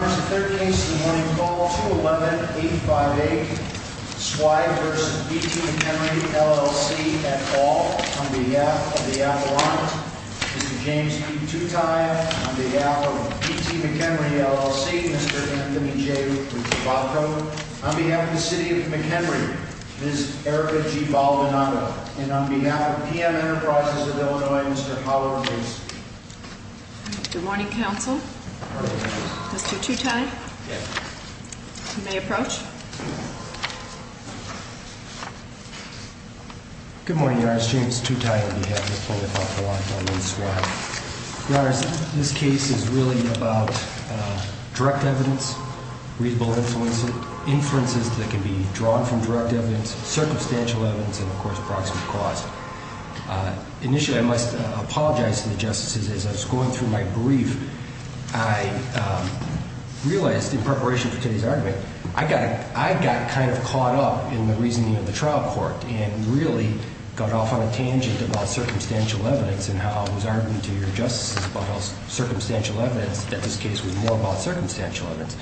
On March 13, the morning call, 211-858, SWY v. BT McHenry, LLC, at all, on behalf of the Appellant, Mr. James E. Tutai, on behalf of BT McHenry, LLC, Mr. Anthony J. Rizzobato, on behalf of the City of McHenry, Ms. Erika G. Valdenaga, and on behalf of PM Enterprises of Illinois, Mr. Paolo Ruiz. Good morning, Counsel. Mr. Tutai, you may approach. Good morning, Your Honors. James Tutai, on behalf of the Appellant, on behalf of SWY. Your Honors, this case is really about direct evidence, reasonable inferences that can be drawn from direct evidence, circumstantial evidence, and, of course, proximate cause. Initially, I must apologize to the Justices. As I was going through my brief, I realized in preparation for today's argument, I got kind of caught up in the reasoning of the trial court and really got off on a tangent about circumstantial evidence and how I was arguing to your Justices about circumstantial evidence, that this case was more about circumstantial evidence.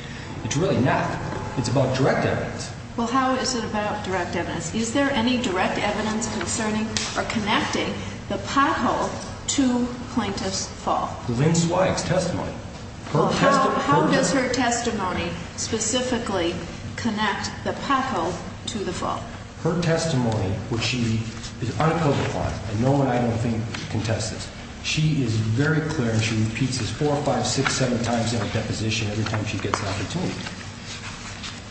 It's really not. It's about direct evidence. Well, how is it about direct evidence? Is there any direct evidence concerning or connecting the pothole to plaintiff's fault? Lynn Zweig's testimony. Well, how does her testimony specifically connect the pothole to the fault? Her testimony, which she is unopposed upon, and no one I don't think can test this. She is very clear, and she repeats this four, five, six, seven times in her deposition every time she gets an opportunity.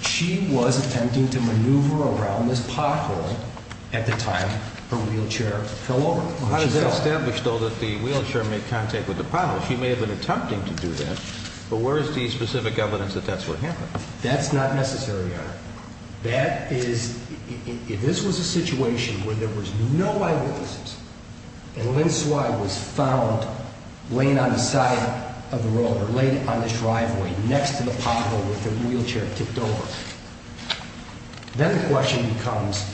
She was attempting to maneuver around this pothole at the time her wheelchair fell over. How does that establish, though, that the wheelchair made contact with the pothole? She may have been attempting to do that, but where is the specific evidence that that's what happened? That's not necessary, Your Honor. This was a situation where there was no eyewitnesses, and Lynn Zweig was found laying on the side of the road or laying on the driveway next to the pothole with her wheelchair tipped over. Then the question becomes,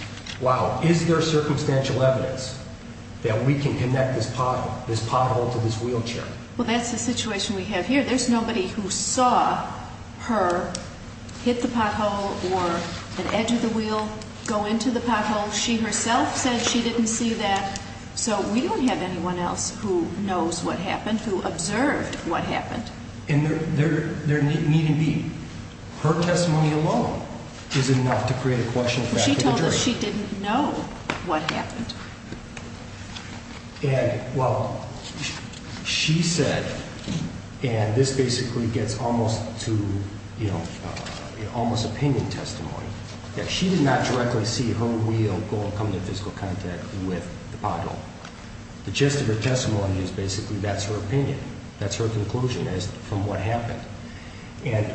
wow, is there circumstantial evidence that we can connect this pothole to this wheelchair? Well, that's the situation we have here. There's nobody who saw her hit the pothole or an edge of the wheel go into the pothole. She herself said she didn't see that, so we don't have anyone else who knows what happened, who observed what happened. And there needn't be. Her testimony alone is enough to create a question back to the jury. She told us she didn't know what happened. And, well, she said, and this basically gets almost to, you know, almost opinion testimony, that she did not directly see her wheel go and come into physical contact with the pothole. The gist of her testimony is basically that's her opinion. That's her conclusion as to what happened. And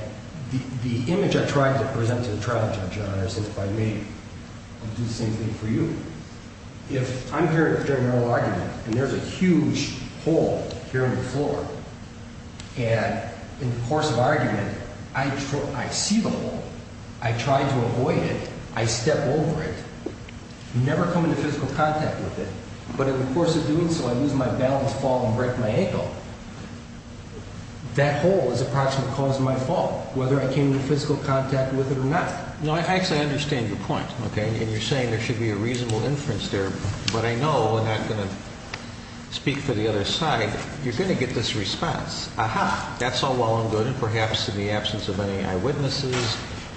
the image I tried to present to the trial judge, Your Honor, is that if I may, I'll do the same thing for you. If I'm hearing a general argument and there's a huge hole here on the floor, and in the course of argument, I see the hole, I try to avoid it, I step over it, never come into physical contact with it, but in the course of doing so, I lose my balance, fall and break my ankle, that hole is approximately the cause of my fall, whether I came into physical contact with it or not. No, I actually understand your point, okay, and you're saying there should be a reasonable inference there, but I know, and I'm going to speak for the other side, you're going to get this response, aha, that's all well and good, and perhaps in the absence of any eyewitnesses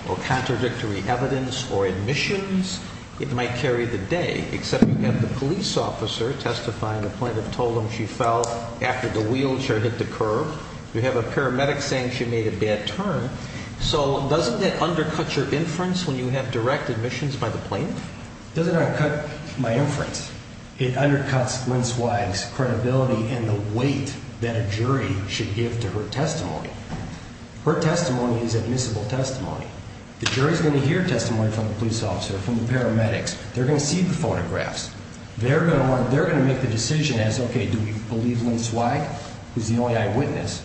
or contradictory evidence or admissions, it might carry the day, except you have the police officer testifying to the point of told him she fell after the wheelchair hit the curb. You have a paramedic saying she made a bad turn, so doesn't that undercut your inference when you have direct admissions by the plaintiff? It doesn't undercut my inference. It undercuts Lynn Swagg's credibility and the weight that a jury should give to her testimony. Her testimony is admissible testimony. The jury is going to hear testimony from the police officer, from the paramedics, they're going to see the photographs, they're going to make the decision as, okay, do we believe Lynn Swagg, who's the only eyewitness,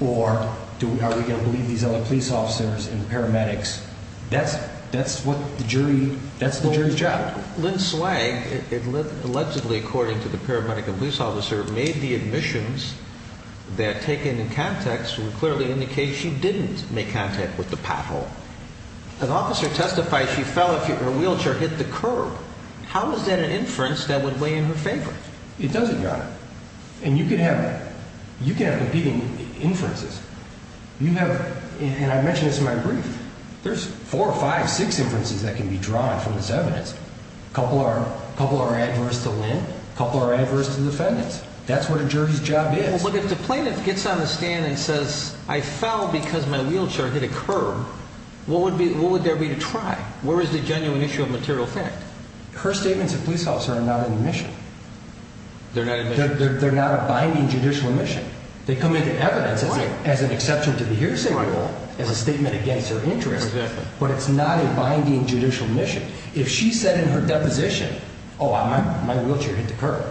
or are we going to believe these other police officers and paramedics? That's what the jury, that's the jury's job. Lynn Swagg, allegedly according to the paramedic and police officer, made the admissions that taken in context would clearly indicate she didn't make contact with the pothole. An officer testified she fell if her wheelchair hit the curb. How is that an inference that would weigh in her favor? It doesn't, Your Honor. And you can have competing inferences. You have, and I mentioned this in my brief, there's four, five, six inferences that can be drawn from this evidence. A couple are adverse to Lynn, a couple are adverse to the defendants. That's what a jury's job is. But if the plaintiff gets on the stand and says, I fell because my wheelchair hit a curb, what would there be to try? Where is the genuine issue of material fact? Her statements at the police officer are not an admission. They're not a binding judicial admission. They come into evidence as an exception to the hearsay rule, as a statement against her interest, but it's not a binding judicial admission. If she said in her deposition, oh, my wheelchair hit the curb,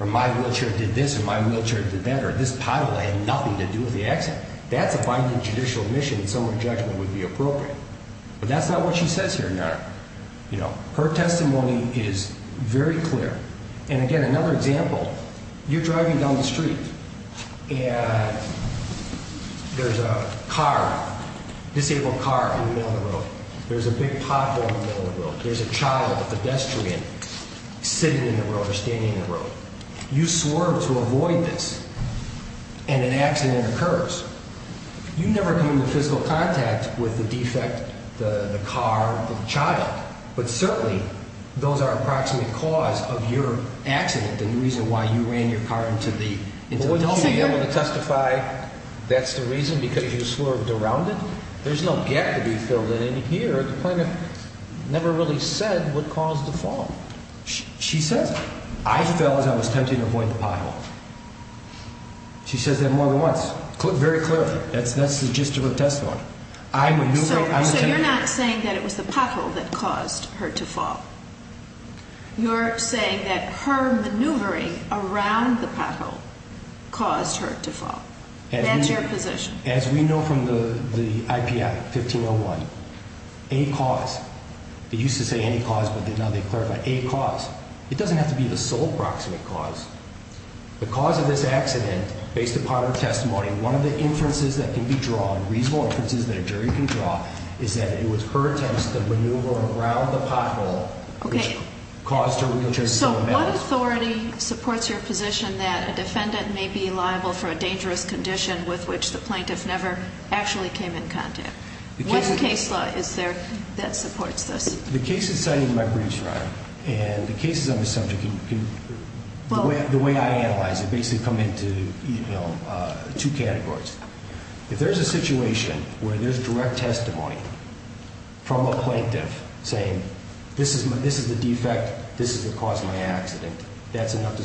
or my wheelchair did this, or my wheelchair did that, or this pothole had nothing to do with the accident, that's a binding judicial admission in some sense, and I think her judgment would be appropriate. But that's not what she says here, Your Honor. You know, her testimony is very clear. And again, another example, you're driving down the street, and there's a car, disabled car in the middle of the road. There's a big pothole in the middle of the road. There's a child, a pedestrian, sitting in the road or standing in the road. You swerve to avoid this, and an accident occurs. You never come into physical contact with the defect, the car, the child, but certainly those are approximate cause of your accident, the reason why you ran your car into the street. Well, wouldn't she be able to testify that's the reason, because you swerved around it? There's no gap to be filled in. And here, the plaintiff never really said what caused the fall. She says, I fell as I was attempting to avoid the pothole. She says that more than once. Very clearly. That's the gist of her testimony. So you're not saying that it was the pothole that caused her to fall. You're saying that her maneuvering around the pothole caused her to fall. That's your position. As we know from the IP Act, 1501, a cause, they used to say any cause, but now they clarify, a cause. It doesn't have to be the sole approximate cause. The cause of this accident, based upon her testimony, one of the inferences that can be drawn, reasonable inferences that a jury can draw, is that it was her attempts to maneuver around the pothole which caused her wheelchair to fall. So what authority supports your position that a defendant may be liable for a dangerous condition with which the plaintiff never actually came in contact? What case law is there that supports this? The cases cited in my briefs, Your Honor, and the cases on this subject, the way I analyze it, basically come into two categories. If there's a situation where there's direct testimony from a plaintiff saying this is the defect, this is what caused my accident, that's enough to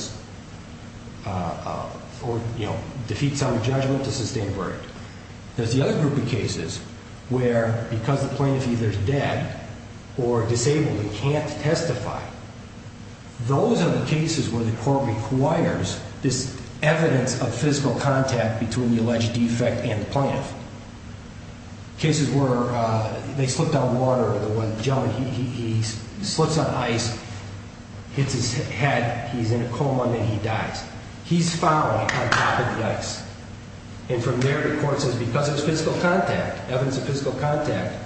defeat sound judgment to sustain a verdict. There's the other group of cases where because the plaintiff either is dead or disabled and can't testify, those are the cases where the court requires this evidence of physical contact between the alleged defect and the plaintiff. Cases where they slipped on water, the gentleman, he slips on ice, hits his head, he's in a coma, and then he dies. He's fouling on top of the ice, and from there the court says because it's physical contact, evidence of physical contact,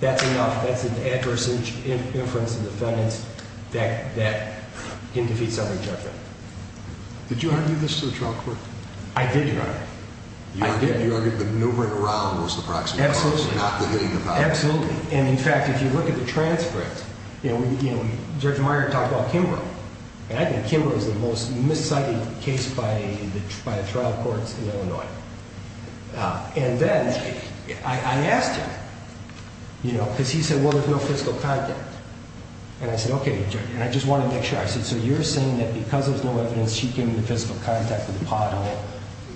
that's enough, that's an adverse inference to the defendant that can defeat sound judgment. Did you argue this in the trial court? I did, Your Honor. I did. You argued that maneuvering around was the proxy. Absolutely. Not the hitting of power. Absolutely. And in fact, if you look at the transcript, you know, Judge Meyer talked about And I think Kimber was the most miscited case by the trial courts in Illinois. And then I asked him, you know, because he said, well, there's no physical contact. And I said, okay, Judge, and I just want to make sure. I said, so you're saying that because there's no evidence, she came into physical contact with the pothole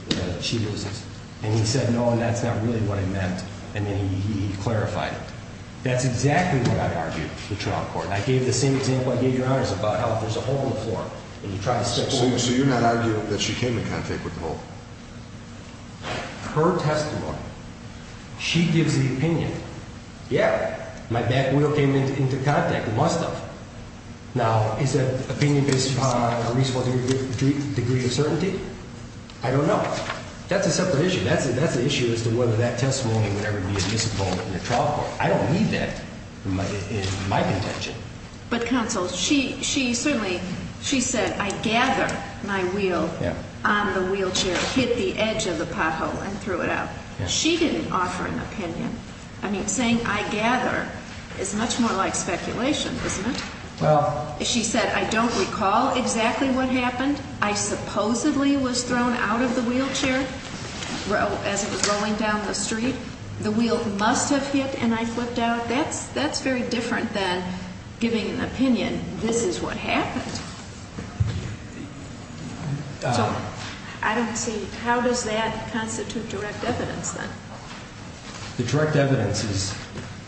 that she loses. And he said, no, and that's not really what I meant. And then he clarified it. That's exactly what I argued in the trial court. I gave the same example I gave Your So you're not arguing that she came in contact with the hole? Her testimony. She gives the opinion. Yeah. My back wheel came into contact. It must have. Now, is that opinion based upon a reasonable degree of certainty? I don't know. That's a separate issue. That's an issue as to whether that testimony would ever be a misinvolvement in a trial court. I don't need that in my contention. But counsel, she certainly she said, I gather my wheel on the wheelchair, hit the edge of the pothole and threw it out. She didn't offer an opinion. I mean, saying I gather is much more like speculation, isn't it? Well, she said, I don't recall exactly what happened. I supposedly was thrown out of the wheelchair as it was rolling down the street. The wheel must have hit and I flipped out. That's that's very different than giving an opinion. This is what happened. I don't see. How does that constitute direct evidence? The direct evidence is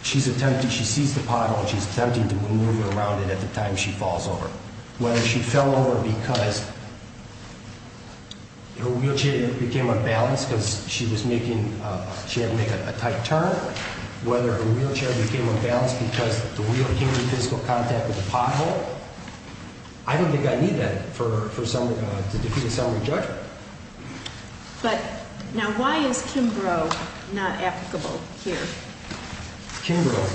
she's attempting. She sees the pothole. She's attempting to move around it at the time she falls over. Whether she fell over because her wheelchair became unbalanced because she was making she had to make a tight turn. Whether her wheelchair became unbalanced because the wheel came in physical contact with the pothole. I don't think I need that for someone to defeat a summary judgment. But now, why is Kimbrough not applicable here? Kimbrough,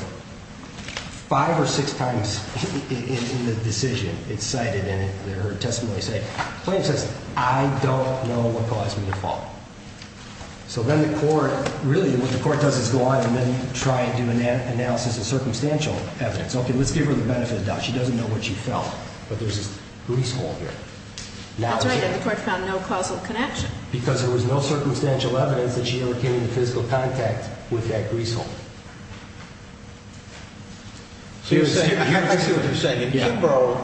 five or six times in the decision, it's cited in her testimony, say, I don't know what caused me to fall. So then the court really what the court does is go on and then try and do an analysis of circumstantial evidence. OK, let's give her the benefit of the doubt. She doesn't know what she felt, but there's a grease hole here. That's right. And the court found no causal connection. Because there was no circumstantial evidence that she ever came into physical contact with that grease hole. I see what you're saying. In Kimbrough,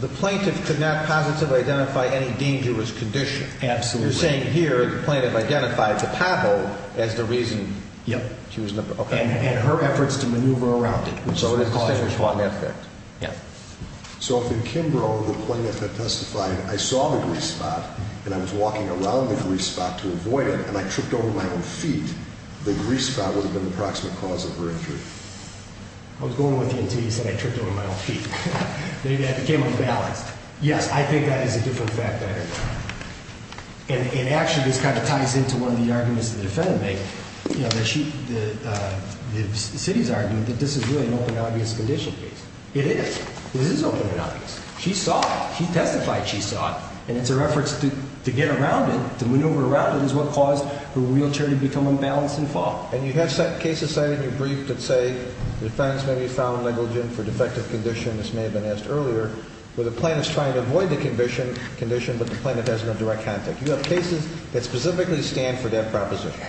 the plaintiff could not positively identify any dangerous condition. Absolutely. You're saying here the plaintiff identified the pothole as the reason she was in the pothole. And her efforts to maneuver around it, which is what caused her fall. So if in Kimbrough, the plaintiff had testified, I saw the grease spot and I was walking around the grease spot to avoid it, and I tripped over my own feet, the grease spot would have been the proximate cause of her injury. I was going with you until you said I tripped over my own feet. Maybe that became unbalanced. Yes, I think that is a different fact that I heard. And actually this kind of ties into one of the arguments that the defendant made. The city's argument that this is really an open and obvious conditional case. It is. It is open and obvious. She saw it. She testified she saw it. And it's her efforts to get around it, to maneuver around it, is what caused her wheelchair to become unbalanced and fall. And you have cases cited in your brief that say the defense may be found negligent for defective condition, as may have been asked earlier, where the plaintiff is trying to avoid the condition, but the plaintiff has no direct contact. You have cases that specifically stand for that proposition.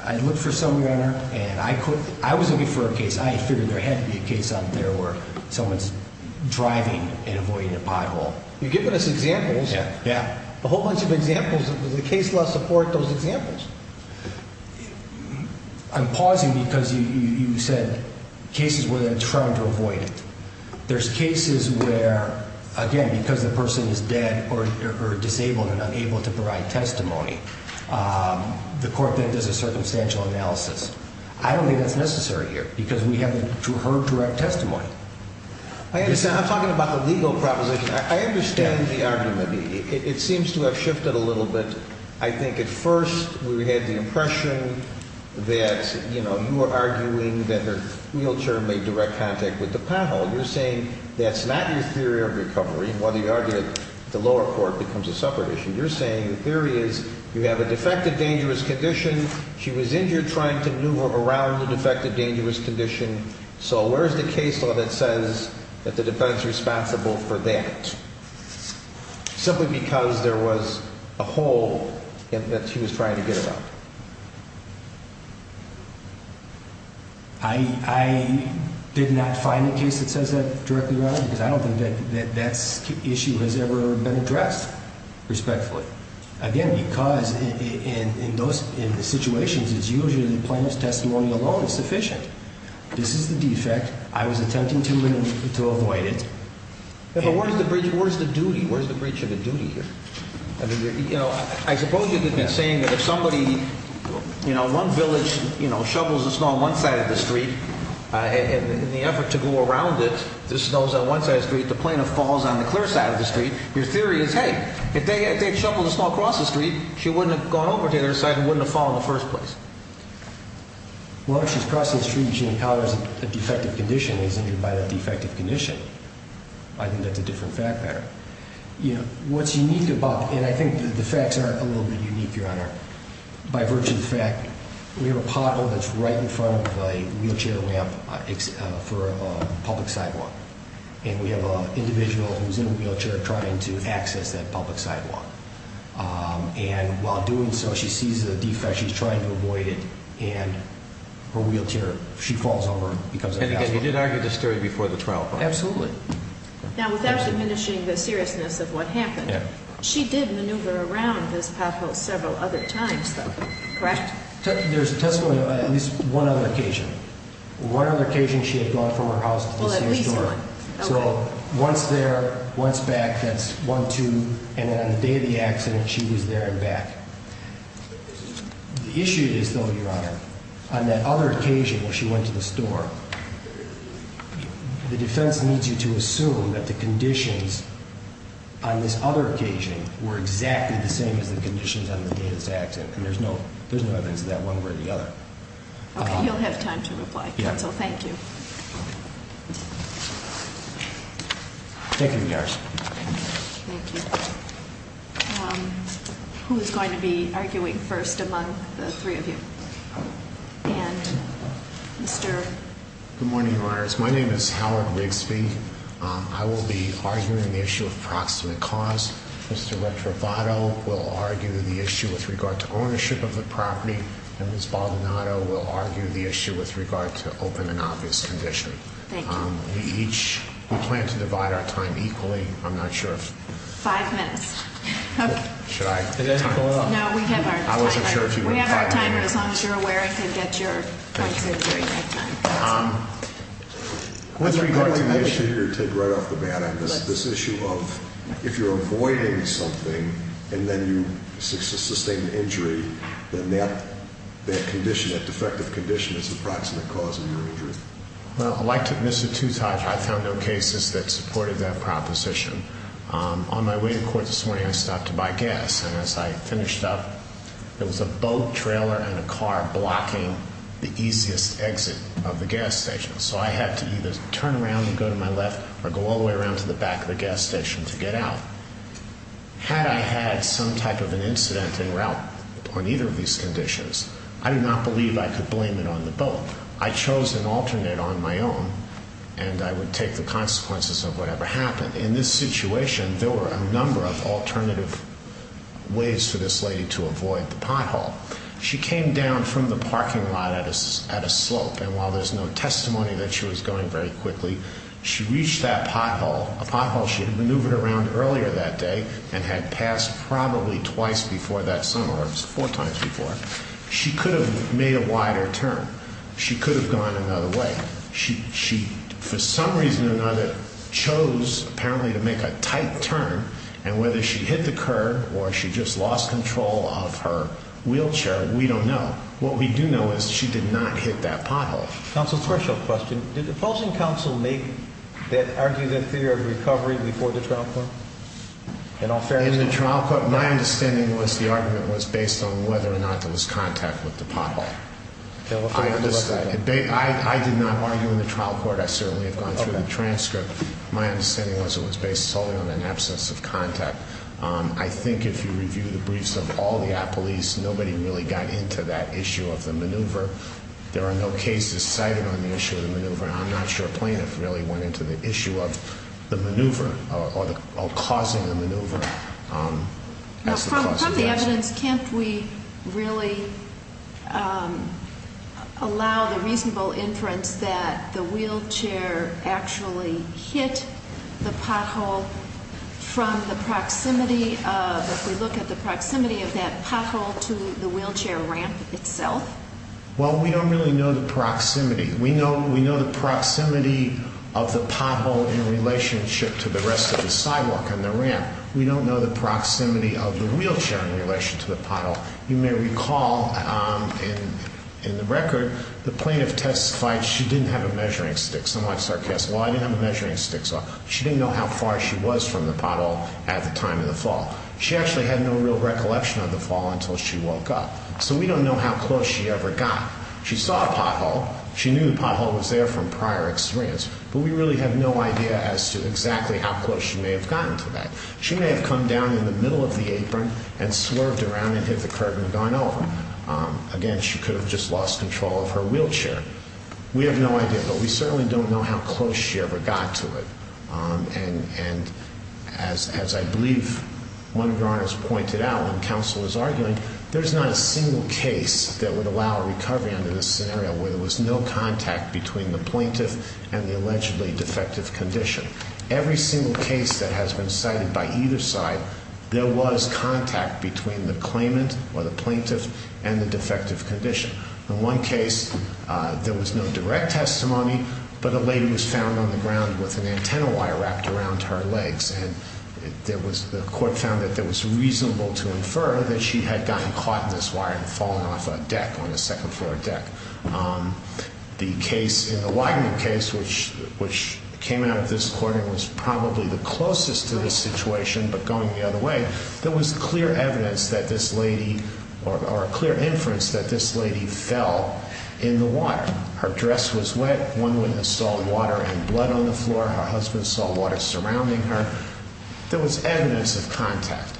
I looked for some, Your Honor, and I was looking for a case. I figured there had to be a case out there where someone is driving and avoiding a pothole. You've given us examples. Yeah, yeah. A whole bunch of examples. Does the case law support those examples? I'm pausing because you said cases where they're trying to avoid it. There's cases where, again, because the person is dead or disabled and unable to provide testimony, the court then does a circumstantial analysis. I don't think that's necessary here because we haven't heard direct testimony. I understand. I'm talking about the legal proposition. I understand the argument. It seems to have shifted a little bit. I think at first we had the impression that, you know, you were arguing that the wheelchair made direct contact with the pothole. You're saying that's not your theory of recovery, whether you argue that the lower court becomes a separate issue. You're saying the theory is you have a defective dangerous condition. She was injured trying to maneuver around the defective dangerous condition. So where is the case law that says that the defendant is responsible for that? Simply because there was a hole that she was trying to get about. I did not find a case that says that directly, Your Honor, because I don't think that that issue has ever been addressed respectfully. Again, because in those situations, it's usually plaintiff's testimony alone is sufficient. This is the defect. I was attempting to avoid it. But where's the bridge? Where's the duty? Where's the bridge of the duty here? You know, I suppose you could be saying that if somebody, you know, one village, you know, shovels the snow on one side of the street in the effort to go around it, the snow's on one side of the street, the plaintiff falls on the clear side of the street. Your theory is, hey, if they had shoveled the snow across the street, she wouldn't have gone over to the other side and wouldn't have fallen in the first place. Well, if she's crossing the street and she encounters a defective condition and is injured by the defective condition, I think that's a different fact pattern. You know, what's unique about it, and I think the facts are a little bit unique, Your Honor, by virtue of the fact we have a pothole that's right in front of a wheelchair ramp for a public sidewalk. And we have an individual who's in a wheelchair trying to access that public sidewalk. And while doing so, she sees a defect, she's trying to avoid it, and her wheelchair, she falls over. And again, you did argue this theory before the trial, correct? Absolutely. Now, without diminishing the seriousness of what happened, she did maneuver around this pothole several other times, though, correct? There's testimony of at least one other occasion. One other occasion she had gone from her house to the same store. Well, at least one. So once there, once back, that's one, two. And then on the day of the accident, she was there and back. The issue is, though, Your Honor, on that other occasion where she went to the store, the defense needs you to assume that the conditions on this other occasion were exactly the same as the conditions on the day of this accident, and there's no evidence of that one way or the other. Okay, you'll have time to reply. Counsel, thank you. Thank you, Your Honor. Thank you. Who is going to be arguing first among the three of you? And Mr. Good morning, Your Honors. My name is Howard Rigsby. I will be arguing the issue of proximate cause. Mr. Retrovato will argue the issue with regard to ownership of the property, and Ms. Baldonado will argue the issue with regard to open and obvious condition. Thank you. We each plan to divide our time equally. I'm not sure if you're aware. Five minutes. Okay. Did I pull it off? No, we have our time. I wasn't sure if you were five minutes. We have our time. But as long as you're aware, I can get your points in during that time. With regard to the issue, you're right off the bat on this issue of if you're avoiding something and then you sustain an injury, then that condition, that defective condition, is the proximate cause of your injury. Well, like Mr. Tutaj, I found no cases that supported that proposition. On my way to court this morning, I stopped to buy gas, and as I finished up, there was a boat trailer and a car blocking the easiest exit of the gas station. So I had to either turn around and go to my left or go all the way around to the back of the gas station to get out. Had I had some type of an incident en route on either of these conditions, I do not believe I could blame it on the boat. I chose an alternate on my own, and I would take the consequences of whatever happened. In this situation, there were a number of alternative ways for this lady to avoid the pothole. She came down from the parking lot at a slope, and while there's no testimony that she was going very quickly, she reached that pothole, a pothole she had maneuvered around earlier that day and had passed probably twice before that summer. It was four times before. She could have made a wider turn. She could have gone another way. She, for some reason or another, chose apparently to make a tight turn, and whether she hit the curb or she just lost control of her wheelchair, we don't know. What we do know is she did not hit that pothole. Counsel, a special question. Did the opposing counsel make that, argue that theory of recovery before the trial court? In all fairness? In the trial court, my understanding was the argument was based on whether or not there was contact with the pothole. I did not argue in the trial court. I certainly have gone through the transcript. My understanding was it was based solely on an absence of contact. I think if you review the briefs of all the police, nobody really got into that issue of the maneuver. There are no cases cited on the issue of the maneuver, and I'm not sure plaintiffs really went into the issue of the maneuver or causing the maneuver as the cause of the accident. From the evidence, can't we really allow the reasonable inference that the wheelchair actually hit the pothole from the proximity of, if we look at the proximity of that pothole to the wheelchair ramp itself? Well, we don't really know the proximity. We know the proximity of the pothole in relationship to the rest of the sidewalk and the ramp. We don't know the proximity of the wheelchair in relation to the pothole. You may recall in the record the plaintiff testified she didn't have a measuring stick, somewhat sarcastic. Well, I didn't have a measuring stick, so she didn't know how far she was from the pothole at the time of the fall. She actually had no real recollection of the fall until she woke up, so we don't know how close she ever got. She saw a pothole. She knew the pothole was there from prior experience, but we really have no idea as to exactly how close she may have gotten to that. She may have come down in the middle of the apron and swerved around and hit the curtain and gone over. Again, she could have just lost control of her wheelchair. We have no idea, but we certainly don't know how close she ever got to it. And as I believe one of your honors pointed out when counsel was arguing, there's not a single case that would allow a recovery under this scenario where there was no contact between the plaintiff and the allegedly defective condition. Every single case that has been cited by either side, there was contact between the claimant or the plaintiff and the defective condition. In one case, there was no direct testimony, but a lady was found on the ground with an antenna wire wrapped around her legs, and the court found that it was reasonable to infer that she had gotten caught in this wire and fallen off a deck, on the second floor deck. The case in the Wagner case, which came out of this court and was probably the closest to this situation but going the other way, there was clear evidence that this lady, or a clear inference that this lady fell in the water. Her dress was wet, one witness saw water and blood on the floor, her husband saw water surrounding her. There was evidence of contact.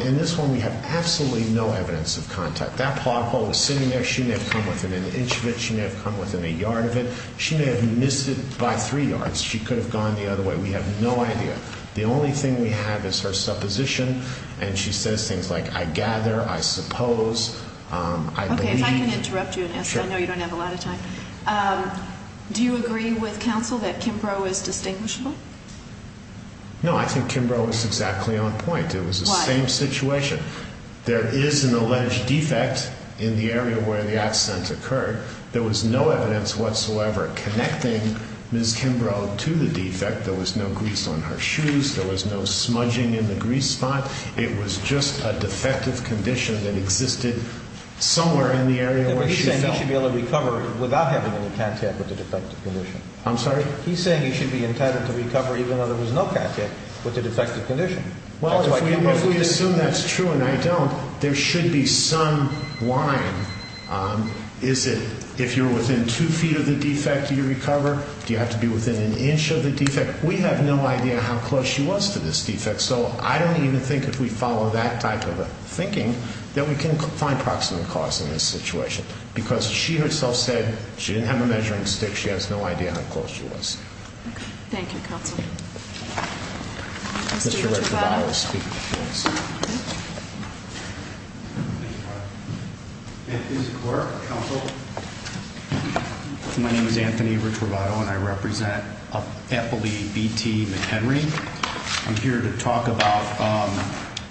In this one, we have absolutely no evidence of contact. That plot hole was sitting there, she may have come within an inch of it, she may have come within a yard of it, she may have missed it by three yards, she could have gone the other way, we have no idea. The only thing we have is her supposition, and she says things like, I gather, I suppose, I believe. Okay, if I can interrupt you, I know you don't have a lot of time. Sure. Do you agree with counsel that Kimbrough is distinguishable? No, I think Kimbrough is exactly on point. Why? It was the same situation. There is an alleged defect in the area where the accident occurred. There was no evidence whatsoever connecting Ms. Kimbrough to the defect. There was no grease on her shoes, there was no smudging in the grease spot. It was just a defective condition that existed somewhere in the area where she fell. He's saying he should be able to recover without having any contact with the defective condition. I'm sorry? He's saying he should be entitled to recover even though there was no contact with the defective condition. Well, if we assume that's true and I don't, there should be some line. Is it if you're within two feet of the defect, do you recover? Do you have to be within an inch of the defect? We have no idea how close she was to this defect, so I don't even think if we follow that type of thinking, that we can find proximate cause in this situation because she herself said she didn't have a measuring stick. She has no idea how close she was. Okay. Thank you, counsel. Mr. Retrovato will speak, please. This is the court, counsel. My name is Anthony Retrovato, and I represent Appley B.T. McHenry. I'm here to talk about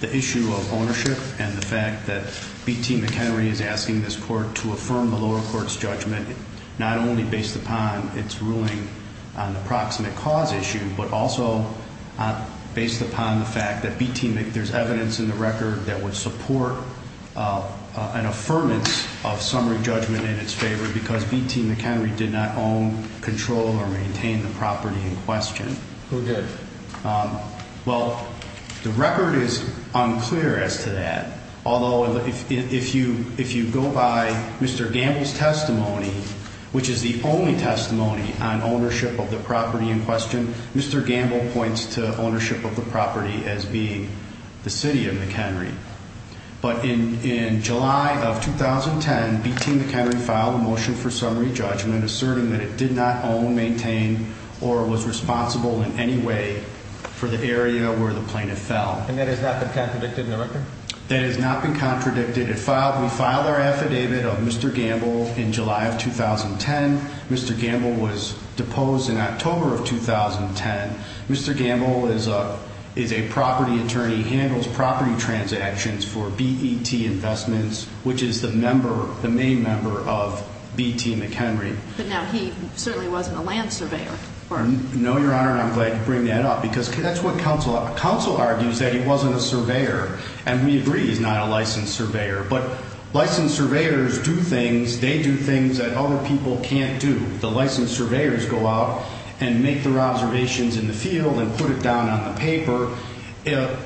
the issue of ownership and the fact that B.T. McHenry is asking this court to affirm the lower court's judgment, not only based upon its ruling on the proximate cause issue but also based upon the fact that B.T. McHenry, there's evidence in the record that would support an affirmance of summary judgment in its favor because B.T. McHenry did not own, control, or maintain the property in question. Okay. Well, the record is unclear as to that. Although if you go by Mr. Gamble's testimony, which is the only testimony on ownership of the property in question, Mr. Gamble points to ownership of the property as being the city of McHenry. But in July of 2010, B.T. McHenry filed a motion for summary judgment asserting that it did not own, maintain, or was responsible in any way for the area where the plaintiff fell. And that has not been contradicted in the record? That has not been contradicted. We filed our affidavit of Mr. Gamble in July of 2010. Mr. Gamble was deposed in October of 2010. Mr. Gamble is a property attorney, handles property transactions for BET Investments, which is the member, the main member of B.T. McHenry. But now he certainly wasn't a land surveyor. No, Your Honor, and I'm glad you bring that up because that's what counsel argues, that he wasn't a surveyor. And we agree he's not a licensed surveyor. But licensed surveyors do things, they do things that other people can't do. The licensed surveyors go out and make their observations in the field and put it down on the paper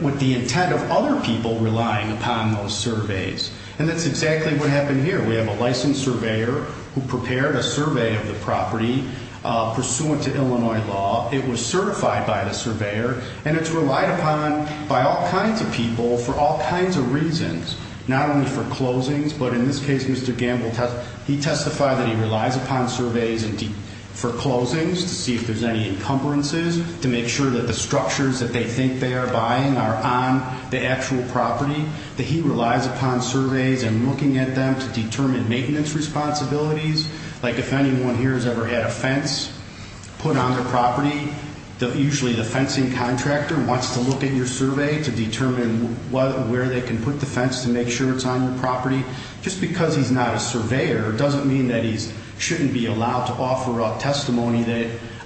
with the intent of other people relying upon those surveys. And that's exactly what happened here. We have a licensed surveyor who prepared a survey of the property pursuant to Illinois law. It was certified by the surveyor, and it's relied upon by all kinds of people for all kinds of reasons, not only for closings, but in this case, Mr. Gamble, he testified that he relies upon surveys for closings to see if there's any encumbrances, to make sure that the structures that they think they are buying are on the actual property, that he relies upon surveys and looking at them to determine maintenance responsibilities, like if anyone here has ever had a fence put on their property, usually the fencing contractor wants to look at your survey to determine where they can put the fence to make sure it's on your property. Just because he's not a surveyor doesn't mean that he shouldn't be allowed to offer up testimony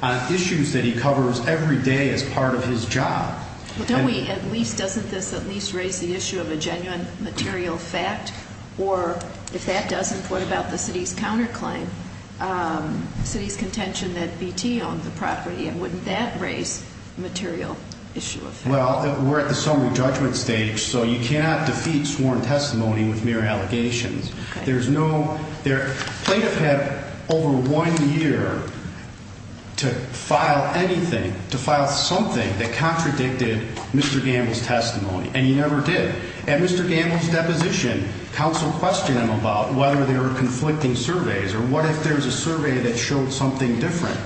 on issues that he covers every day as part of his job. Well, don't we at least, doesn't this at least raise the issue of a genuine material fact? Or if that doesn't, what about the city's counterclaim, the city's contention that BT owned the property, and wouldn't that raise a material issue of fact? Well, we're at the summary judgment stage, so you cannot defeat sworn testimony with mere allegations. Plaintiff had over one year to file anything, to file something that contradicted Mr. Gamble's testimony, and he never did. At Mr. Gamble's deposition, counsel questioned him about whether there were conflicting surveys or what if there was a survey that showed something different.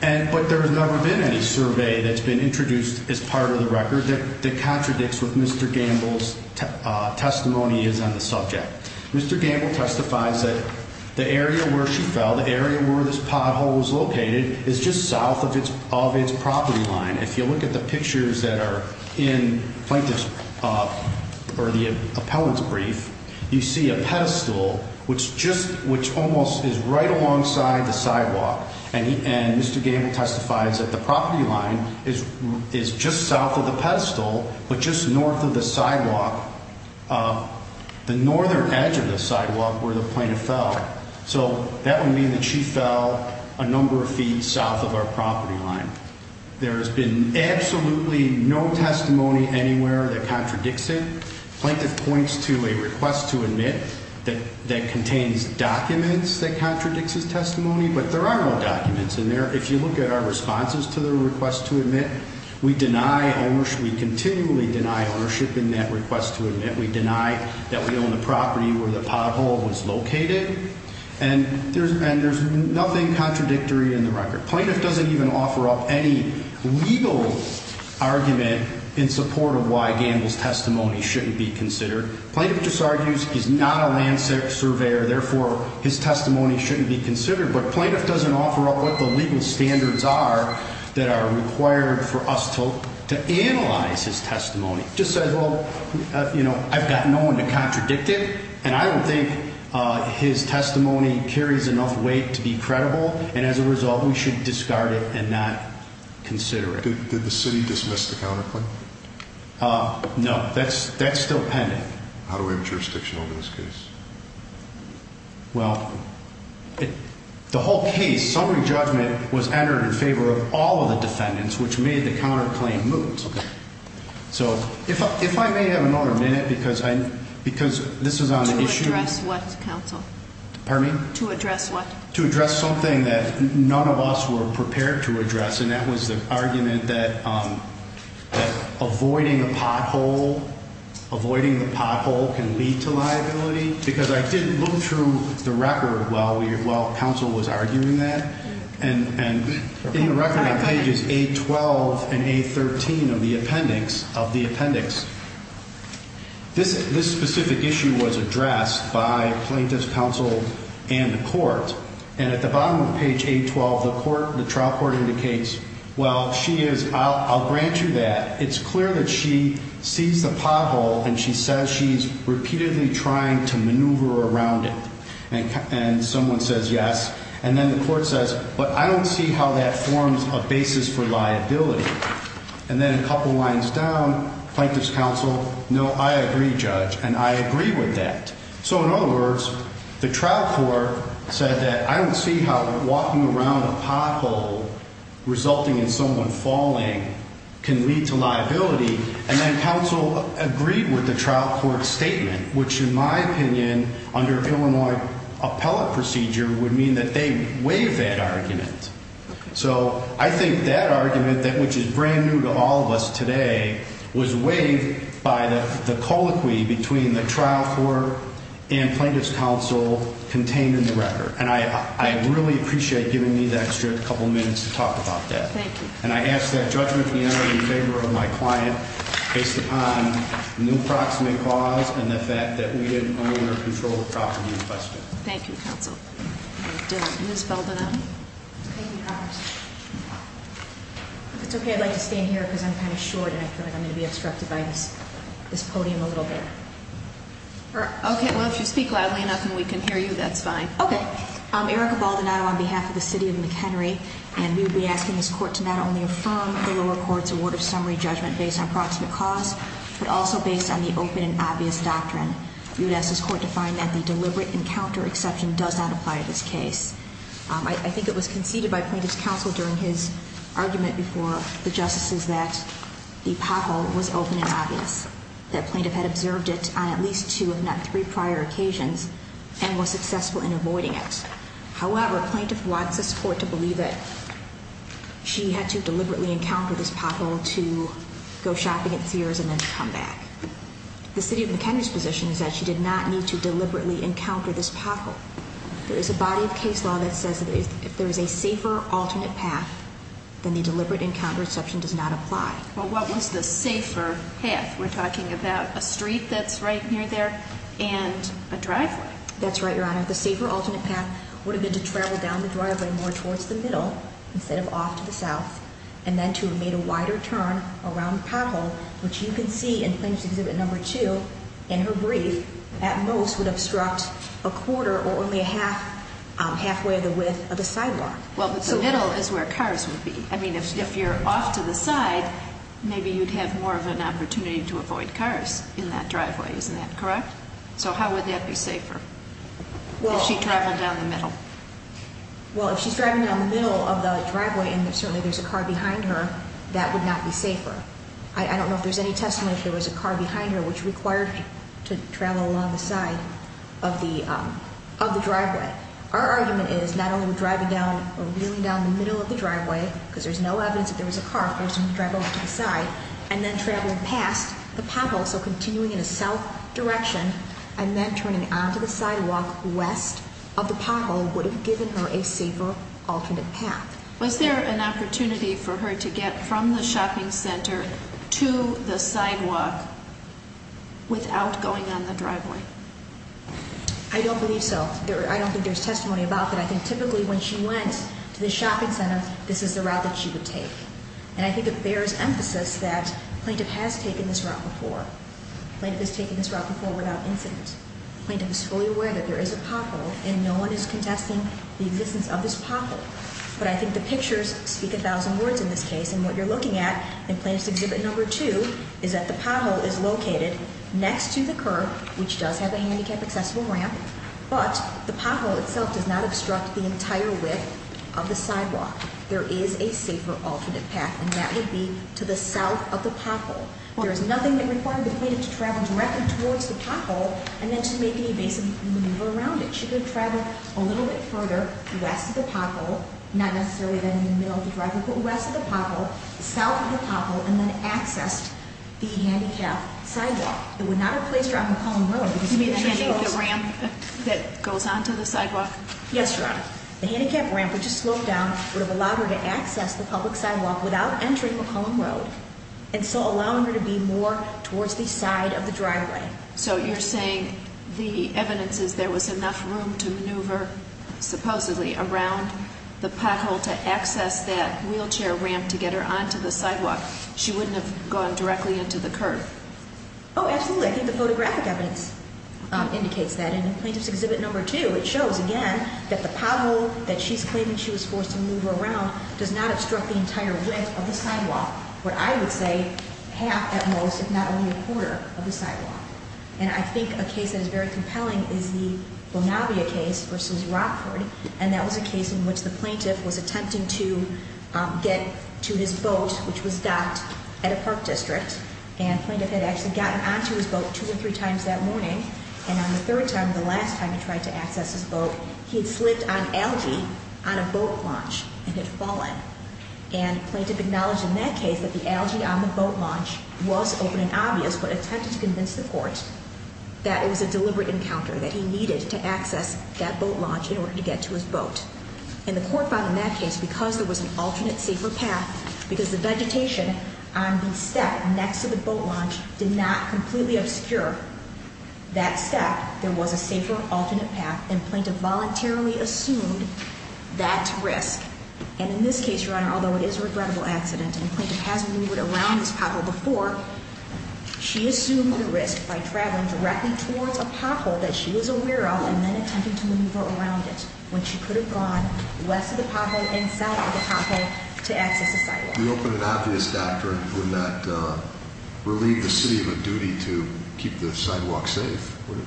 But there has never been any survey that's been introduced as part of the record that contradicts what Mr. Gamble's testimony is on the subject. Mr. Gamble testifies that the area where she fell, the area where this pothole was located, is just south of its property line. If you look at the pictures that are in Plaintiff's or the appellant's brief, you see a pedestal which almost is right alongside the sidewalk. And Mr. Gamble testifies that the property line is just south of the pedestal, but just north of the sidewalk, the northern edge of the sidewalk where the plaintiff fell. So that would mean that she fell a number of feet south of our property line. There has been absolutely no testimony anywhere that contradicts it. Plaintiff points to a request to admit that contains documents that contradicts his testimony, but there are no documents in there. If you look at our responses to the request to admit, we deny ownership. We continually deny ownership in that request to admit. We deny that we own the property where the pothole was located. And there's nothing contradictory in the record. Plaintiff doesn't even offer up any legal argument in support of why Gamble's testimony shouldn't be considered. Plaintiff just argues he's not a land surveyor, therefore his testimony shouldn't be considered. But plaintiff doesn't offer up what the legal standards are that are required for us to analyze his testimony. Just says, well, you know, I've got no one to contradict it, and I don't think his testimony carries enough weight to be credible, and as a result we should discard it and not consider it. Did the city dismiss the counterclaim? No, that's still pending. How do we have jurisdiction over this case? Well, the whole case, summary judgment, was entered in favor of all of the defendants, which made the counterclaim moot. Okay. So if I may have another minute, because this is on the issue. To address what, counsel? Pardon me? To address what? To address something that none of us were prepared to address, and that was the argument that avoiding the pothole can lead to liability, because I didn't look through the record while counsel was arguing that, and in the record on pages 812 and 813 of the appendix, this specific issue was addressed by plaintiff's counsel and the court, and at the bottom of page 812, the trial court indicates, well, she is, I'll grant you that. It's clear that she sees the pothole and she says she's repeatedly trying to maneuver around it, and someone says yes, and then the court says, but I don't see how that forms a basis for liability, and then a couple lines down, plaintiff's counsel, no, I agree, judge, and I agree with that. So in other words, the trial court said that I don't see how walking around a pothole resulting in someone falling can lead to liability, and then counsel agreed with the trial court's statement, which, in my opinion, under Illinois appellate procedure would mean that they waived that argument. So I think that argument, which is brand new to all of us today, was waived by the colloquy between the trial court and plaintiff's counsel contained in the record, and I really appreciate giving me the extra couple minutes to talk about that. Thank you. And I ask that judgment be entered in favor of my client based upon an approximate cause and the fact that we didn't own or control the property in question. Thank you, counsel. Ms. Baldonado. If it's okay, I'd like to stand here because I'm kind of short, and I feel like I'm going to be obstructed by this podium a little bit. Okay, well, if you speak loudly enough and we can hear you, that's fine. Okay. Erica Baldonado on behalf of the city of McHenry, and we would be asking this court to not only affirm the lower court's award of summary judgment based on approximate cause, but also based on the open and obvious doctrine. We would ask this court to find that the deliberate encounter exception does not apply to this case. I think it was conceded by plaintiff's counsel during his argument before the justices that the pothole was open and obvious, that plaintiff had observed it on at least two if not three prior occasions and was successful in avoiding it. However, plaintiff wants this court to believe that she had to deliberately encounter this pothole to go shopping at Sears and then come back. The city of McHenry's position is that she did not need to deliberately encounter this pothole. There is a body of case law that says that if there is a safer alternate path, then the deliberate encounter exception does not apply. Well, what was the safer path? We're talking about a street that's right near there and a driveway. That's right, Your Honor. The safer alternate path would have been to travel down the driveway more towards the middle instead of off to the south, and then to have made a wider turn around the pothole, which you can see in Plaintiff's Exhibit No. 2 in her brief, at most would obstruct a quarter or only halfway of the width of the sidewalk. Well, but the middle is where cars would be. I mean, if you're off to the side, maybe you'd have more of an opportunity to avoid cars in that driveway. Isn't that correct? So how would that be safer, if she traveled down the middle? Well, if she's driving down the middle of the driveway and certainly there's a car behind her, that would not be safer. I don't know if there's any testimony if there was a car behind her which required her to travel along the side of the driveway. Our argument is not only were we driving down or wheeling down the middle of the driveway, because there's no evidence that there was a car, of course we would drive over to the side, and then traveling past the pothole, so continuing in a south direction, and then turning onto the sidewalk west of the pothole would have given her a safer alternate path. Was there an opportunity for her to get from the shopping center to the sidewalk without going on the driveway? I don't believe so. I don't think there's testimony about that. I think typically when she went to the shopping center, this is the route that she would take. And I think it bears emphasis that Plaintiff has taken this route before. Plaintiff has taken this route before without incident. Plaintiff is fully aware that there is a pothole, and no one is contesting the existence of this pothole. But I think the pictures speak a thousand words in this case, and what you're looking at in Plaintiff's Exhibit No. 2 is that the pothole is located next to the curb, which does have a handicap accessible ramp, but the pothole itself does not obstruct the entire width of the sidewalk. There is a safer alternate path, and that would be to the south of the pothole. There is nothing that required the Plaintiff to travel directly towards the pothole and then to make any basic maneuver around it. She could have traveled a little bit further west of the pothole, not necessarily then in the middle of the driveway, but west of the pothole, south of the pothole, and then accessed the handicapped sidewalk. It would not have placed her on McCollum Road. You mean the ramp that goes onto the sidewalk? Yes, Your Honor. The handicapped ramp, which is sloped down, would have allowed her to access the public sidewalk without entering McCollum Road. And so allowing her to be more towards the side of the driveway. So you're saying the evidence is there was enough room to maneuver, supposedly, around the pothole to access that wheelchair ramp to get her onto the sidewalk. She wouldn't have gone directly into the curb. Oh, absolutely. I think the photographic evidence indicates that. And in Plaintiff's Exhibit No. 2, it shows, again, that the pothole that she's claiming she was forced to maneuver around does not obstruct the entire width of the sidewalk. What I would say, half at most, if not only a quarter of the sidewalk. And I think a case that is very compelling is the Bonavia case versus Rockford. And that was a case in which the plaintiff was attempting to get to his boat, which was docked at a park district. And the plaintiff had actually gotten onto his boat two or three times that morning. And on the third time, the last time he tried to access his boat, he had slipped on algae on a boat launch and had fallen. And the plaintiff acknowledged in that case that the algae on the boat launch was open and obvious, but attempted to convince the court that it was a deliberate encounter, that he needed to access that boat launch in order to get to his boat. And the court found in that case, because there was an alternate, safer path, because the vegetation on the step next to the boat launch did not completely obscure that step, there was a safer alternate path, and the plaintiff voluntarily assumed that risk. And in this case, Your Honor, although it is a regrettable accident, and the plaintiff has maneuvered around this pothole before, she assumed the risk by traveling directly towards a pothole that she was aware of and then attempting to maneuver around it when she could have gone west of the pothole The open and obvious doctrine would not relieve the city of a duty to keep the sidewalk safe, would it?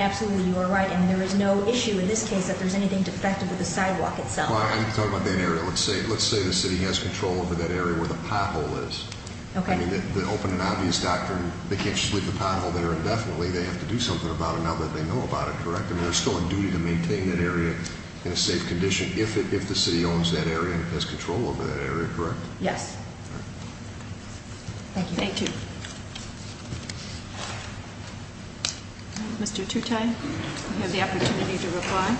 Absolutely. You are right. And there is no issue in this case that there's anything defective with the sidewalk itself. Well, I'm talking about that area. Let's say the city has control over that area where the pothole is. Okay. I mean, the open and obvious doctrine, they can't just leave the pothole there indefinitely. They have to do something about it now that they know about it, correct? I mean, they're still on duty to maintain that area in a safe condition if the city owns that area and has control over that area, correct? Yes. Thank you. Thank you. Mr. Tutai, you have the opportunity to reply.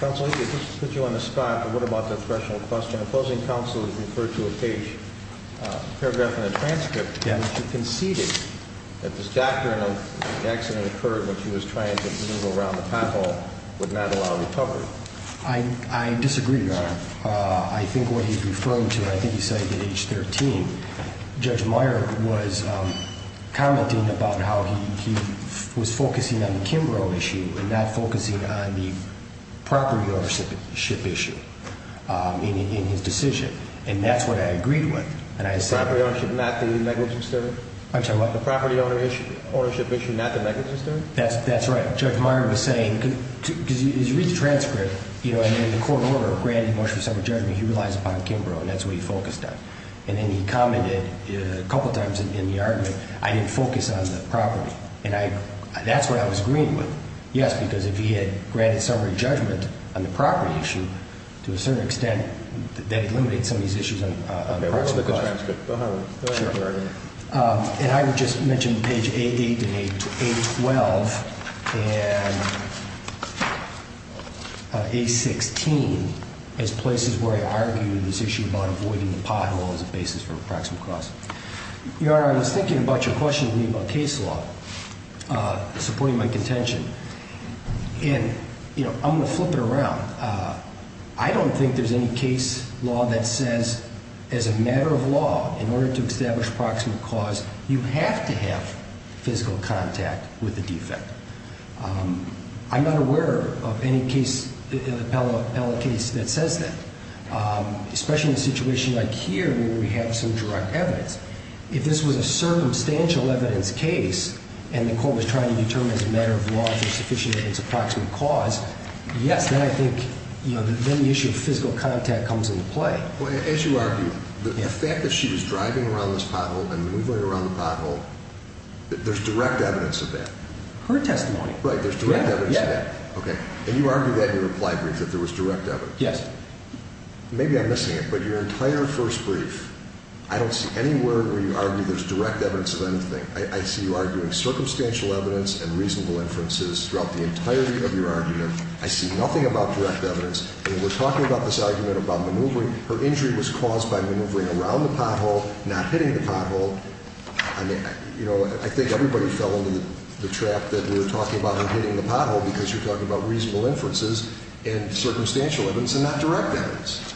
Counsel, let me just put you on the spot, but what about the threshold question? Opposing counsel has referred to a page, a paragraph in the transcript that conceded that this doctrine of the accident occurred when she was trying to move around the pothole would not allow recovery. I disagree, Your Honor. I think what he's referring to, I think he's saying at age 13, Judge Meyer was commenting about how he was focusing on the Kimbrough issue and not focusing on the property ownership issue in his decision. And that's what I agreed with. The property ownership issue, not the negligence issue? I'm sorry, what? The property ownership issue, not the negligence issue? That's right. Judge Meyer was saying, because you read the transcript, and in the court order granted in motion for summary judgment, he relies upon the Kimbrough, and that's what he focused on. And then he commented a couple of times in the argument, I didn't focus on the property. And that's what I was agreeing with. Yes, because if he had granted summary judgment on the property issue, to a certain extent, that would eliminate some of these issues on the proximate cause. And I would just mention page A-8 and A-12 and A-16 as places where I argued this issue about avoiding the pothole as a basis for a proximate cause. Your Honor, I was thinking about your question to me about case law, supporting my contention. And, you know, I'm going to flip it around. I don't think there's any case law that says, as a matter of law, in order to establish a proximate cause, you have to have physical contact with the defendant. I'm not aware of any case, appellate case, that says that, especially in a situation like here where we have some direct evidence. If this was a circumstantial evidence case, and the court was trying to determine as a matter of law if it's sufficient that it's a proximate cause, yes, then I think, you know, then the issue of physical contact comes into play. Well, as you argue, the fact that she was driving around this pothole and moving around the pothole, there's direct evidence of that. Her testimony. Right, there's direct evidence of that. Yeah, yeah. Okay. And you argue that in your reply brief, that there was direct evidence. Yes. Maybe I'm missing it, but your entire first brief, I don't see anywhere where you argue there's direct evidence of anything. I see you arguing circumstantial evidence and reasonable inferences throughout the entirety of your argument. I see nothing about direct evidence. I mean, we're talking about this argument about maneuvering. Her injury was caused by maneuvering around the pothole, not hitting the pothole. I mean, you know, I think everybody fell into the trap that we were talking about her hitting the pothole because you're talking about reasonable inferences and circumstantial evidence and not direct evidence.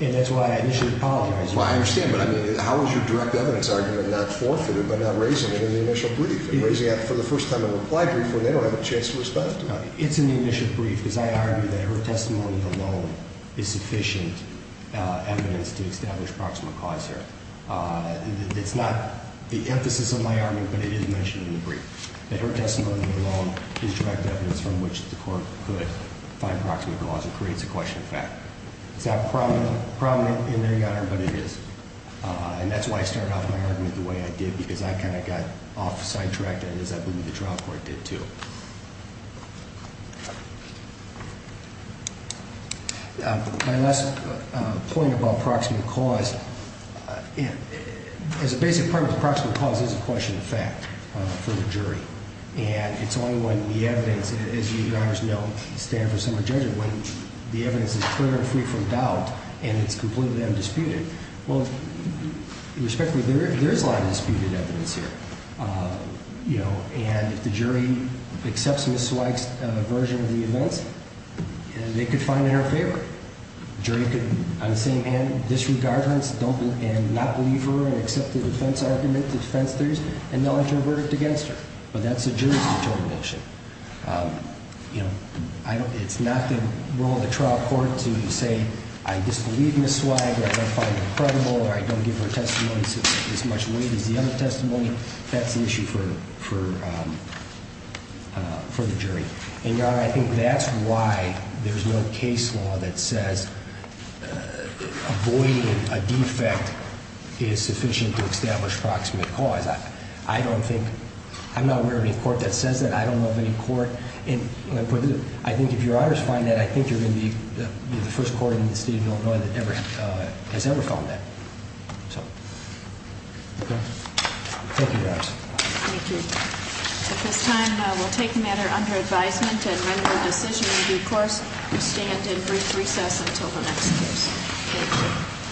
And that's why I initially apologized. Well, I understand. But, I mean, how is your direct evidence argument not forfeited by not raising it in the initial brief and raising it for the first time in a reply brief when they don't have a chance to respond to it? It's in the initial brief because I argue that her testimony alone is sufficient evidence to establish proximate cause here. It's not the emphasis of my argument, but it is mentioned in the brief, that her testimony alone is direct evidence from which the court could find proximate cause. It creates a question of fact. It's not prominent in the argument, but it is. And that's why I started off my argument the way I did because I kind of got off the sidetrack, as I believe the trial court did too. My last point about proximate cause, as a basic part of proximate cause is a question of fact for the jury. And it's only when the evidence, as you guys know, stand for someone's judgment, when the evidence is clear and free from doubt and it's completely undisputed. Well, respectfully, there is a lot of disputed evidence here. You know, and if the jury accepts Ms. Zweig's version of the events, they could find it in her favor. The jury could, on the same hand, disregard her and not believe her and accept the defense argument, the defense theories, and they'll intervert it against her. But that's the jury's determination. You know, it's not the role of the trial court to say, I disbelieve Ms. Zweig or I don't find her credible or I don't give her testimony as much weight as the other testimony. That's an issue for the jury. And, Your Honor, I think that's why there's no case law that says avoiding a defect is sufficient to establish proximate cause. I don't think, I'm not aware of any court that says that. I don't know of any court, and I think if Your Honors find that, I think you're going to be the first court in the state of North Carolina that has ever found that. So, okay. Thank you, Your Honors. Thank you. At this time, we'll take the matter under advisement and render a decision in due course. We stand in brief recess until the next case. Thank you.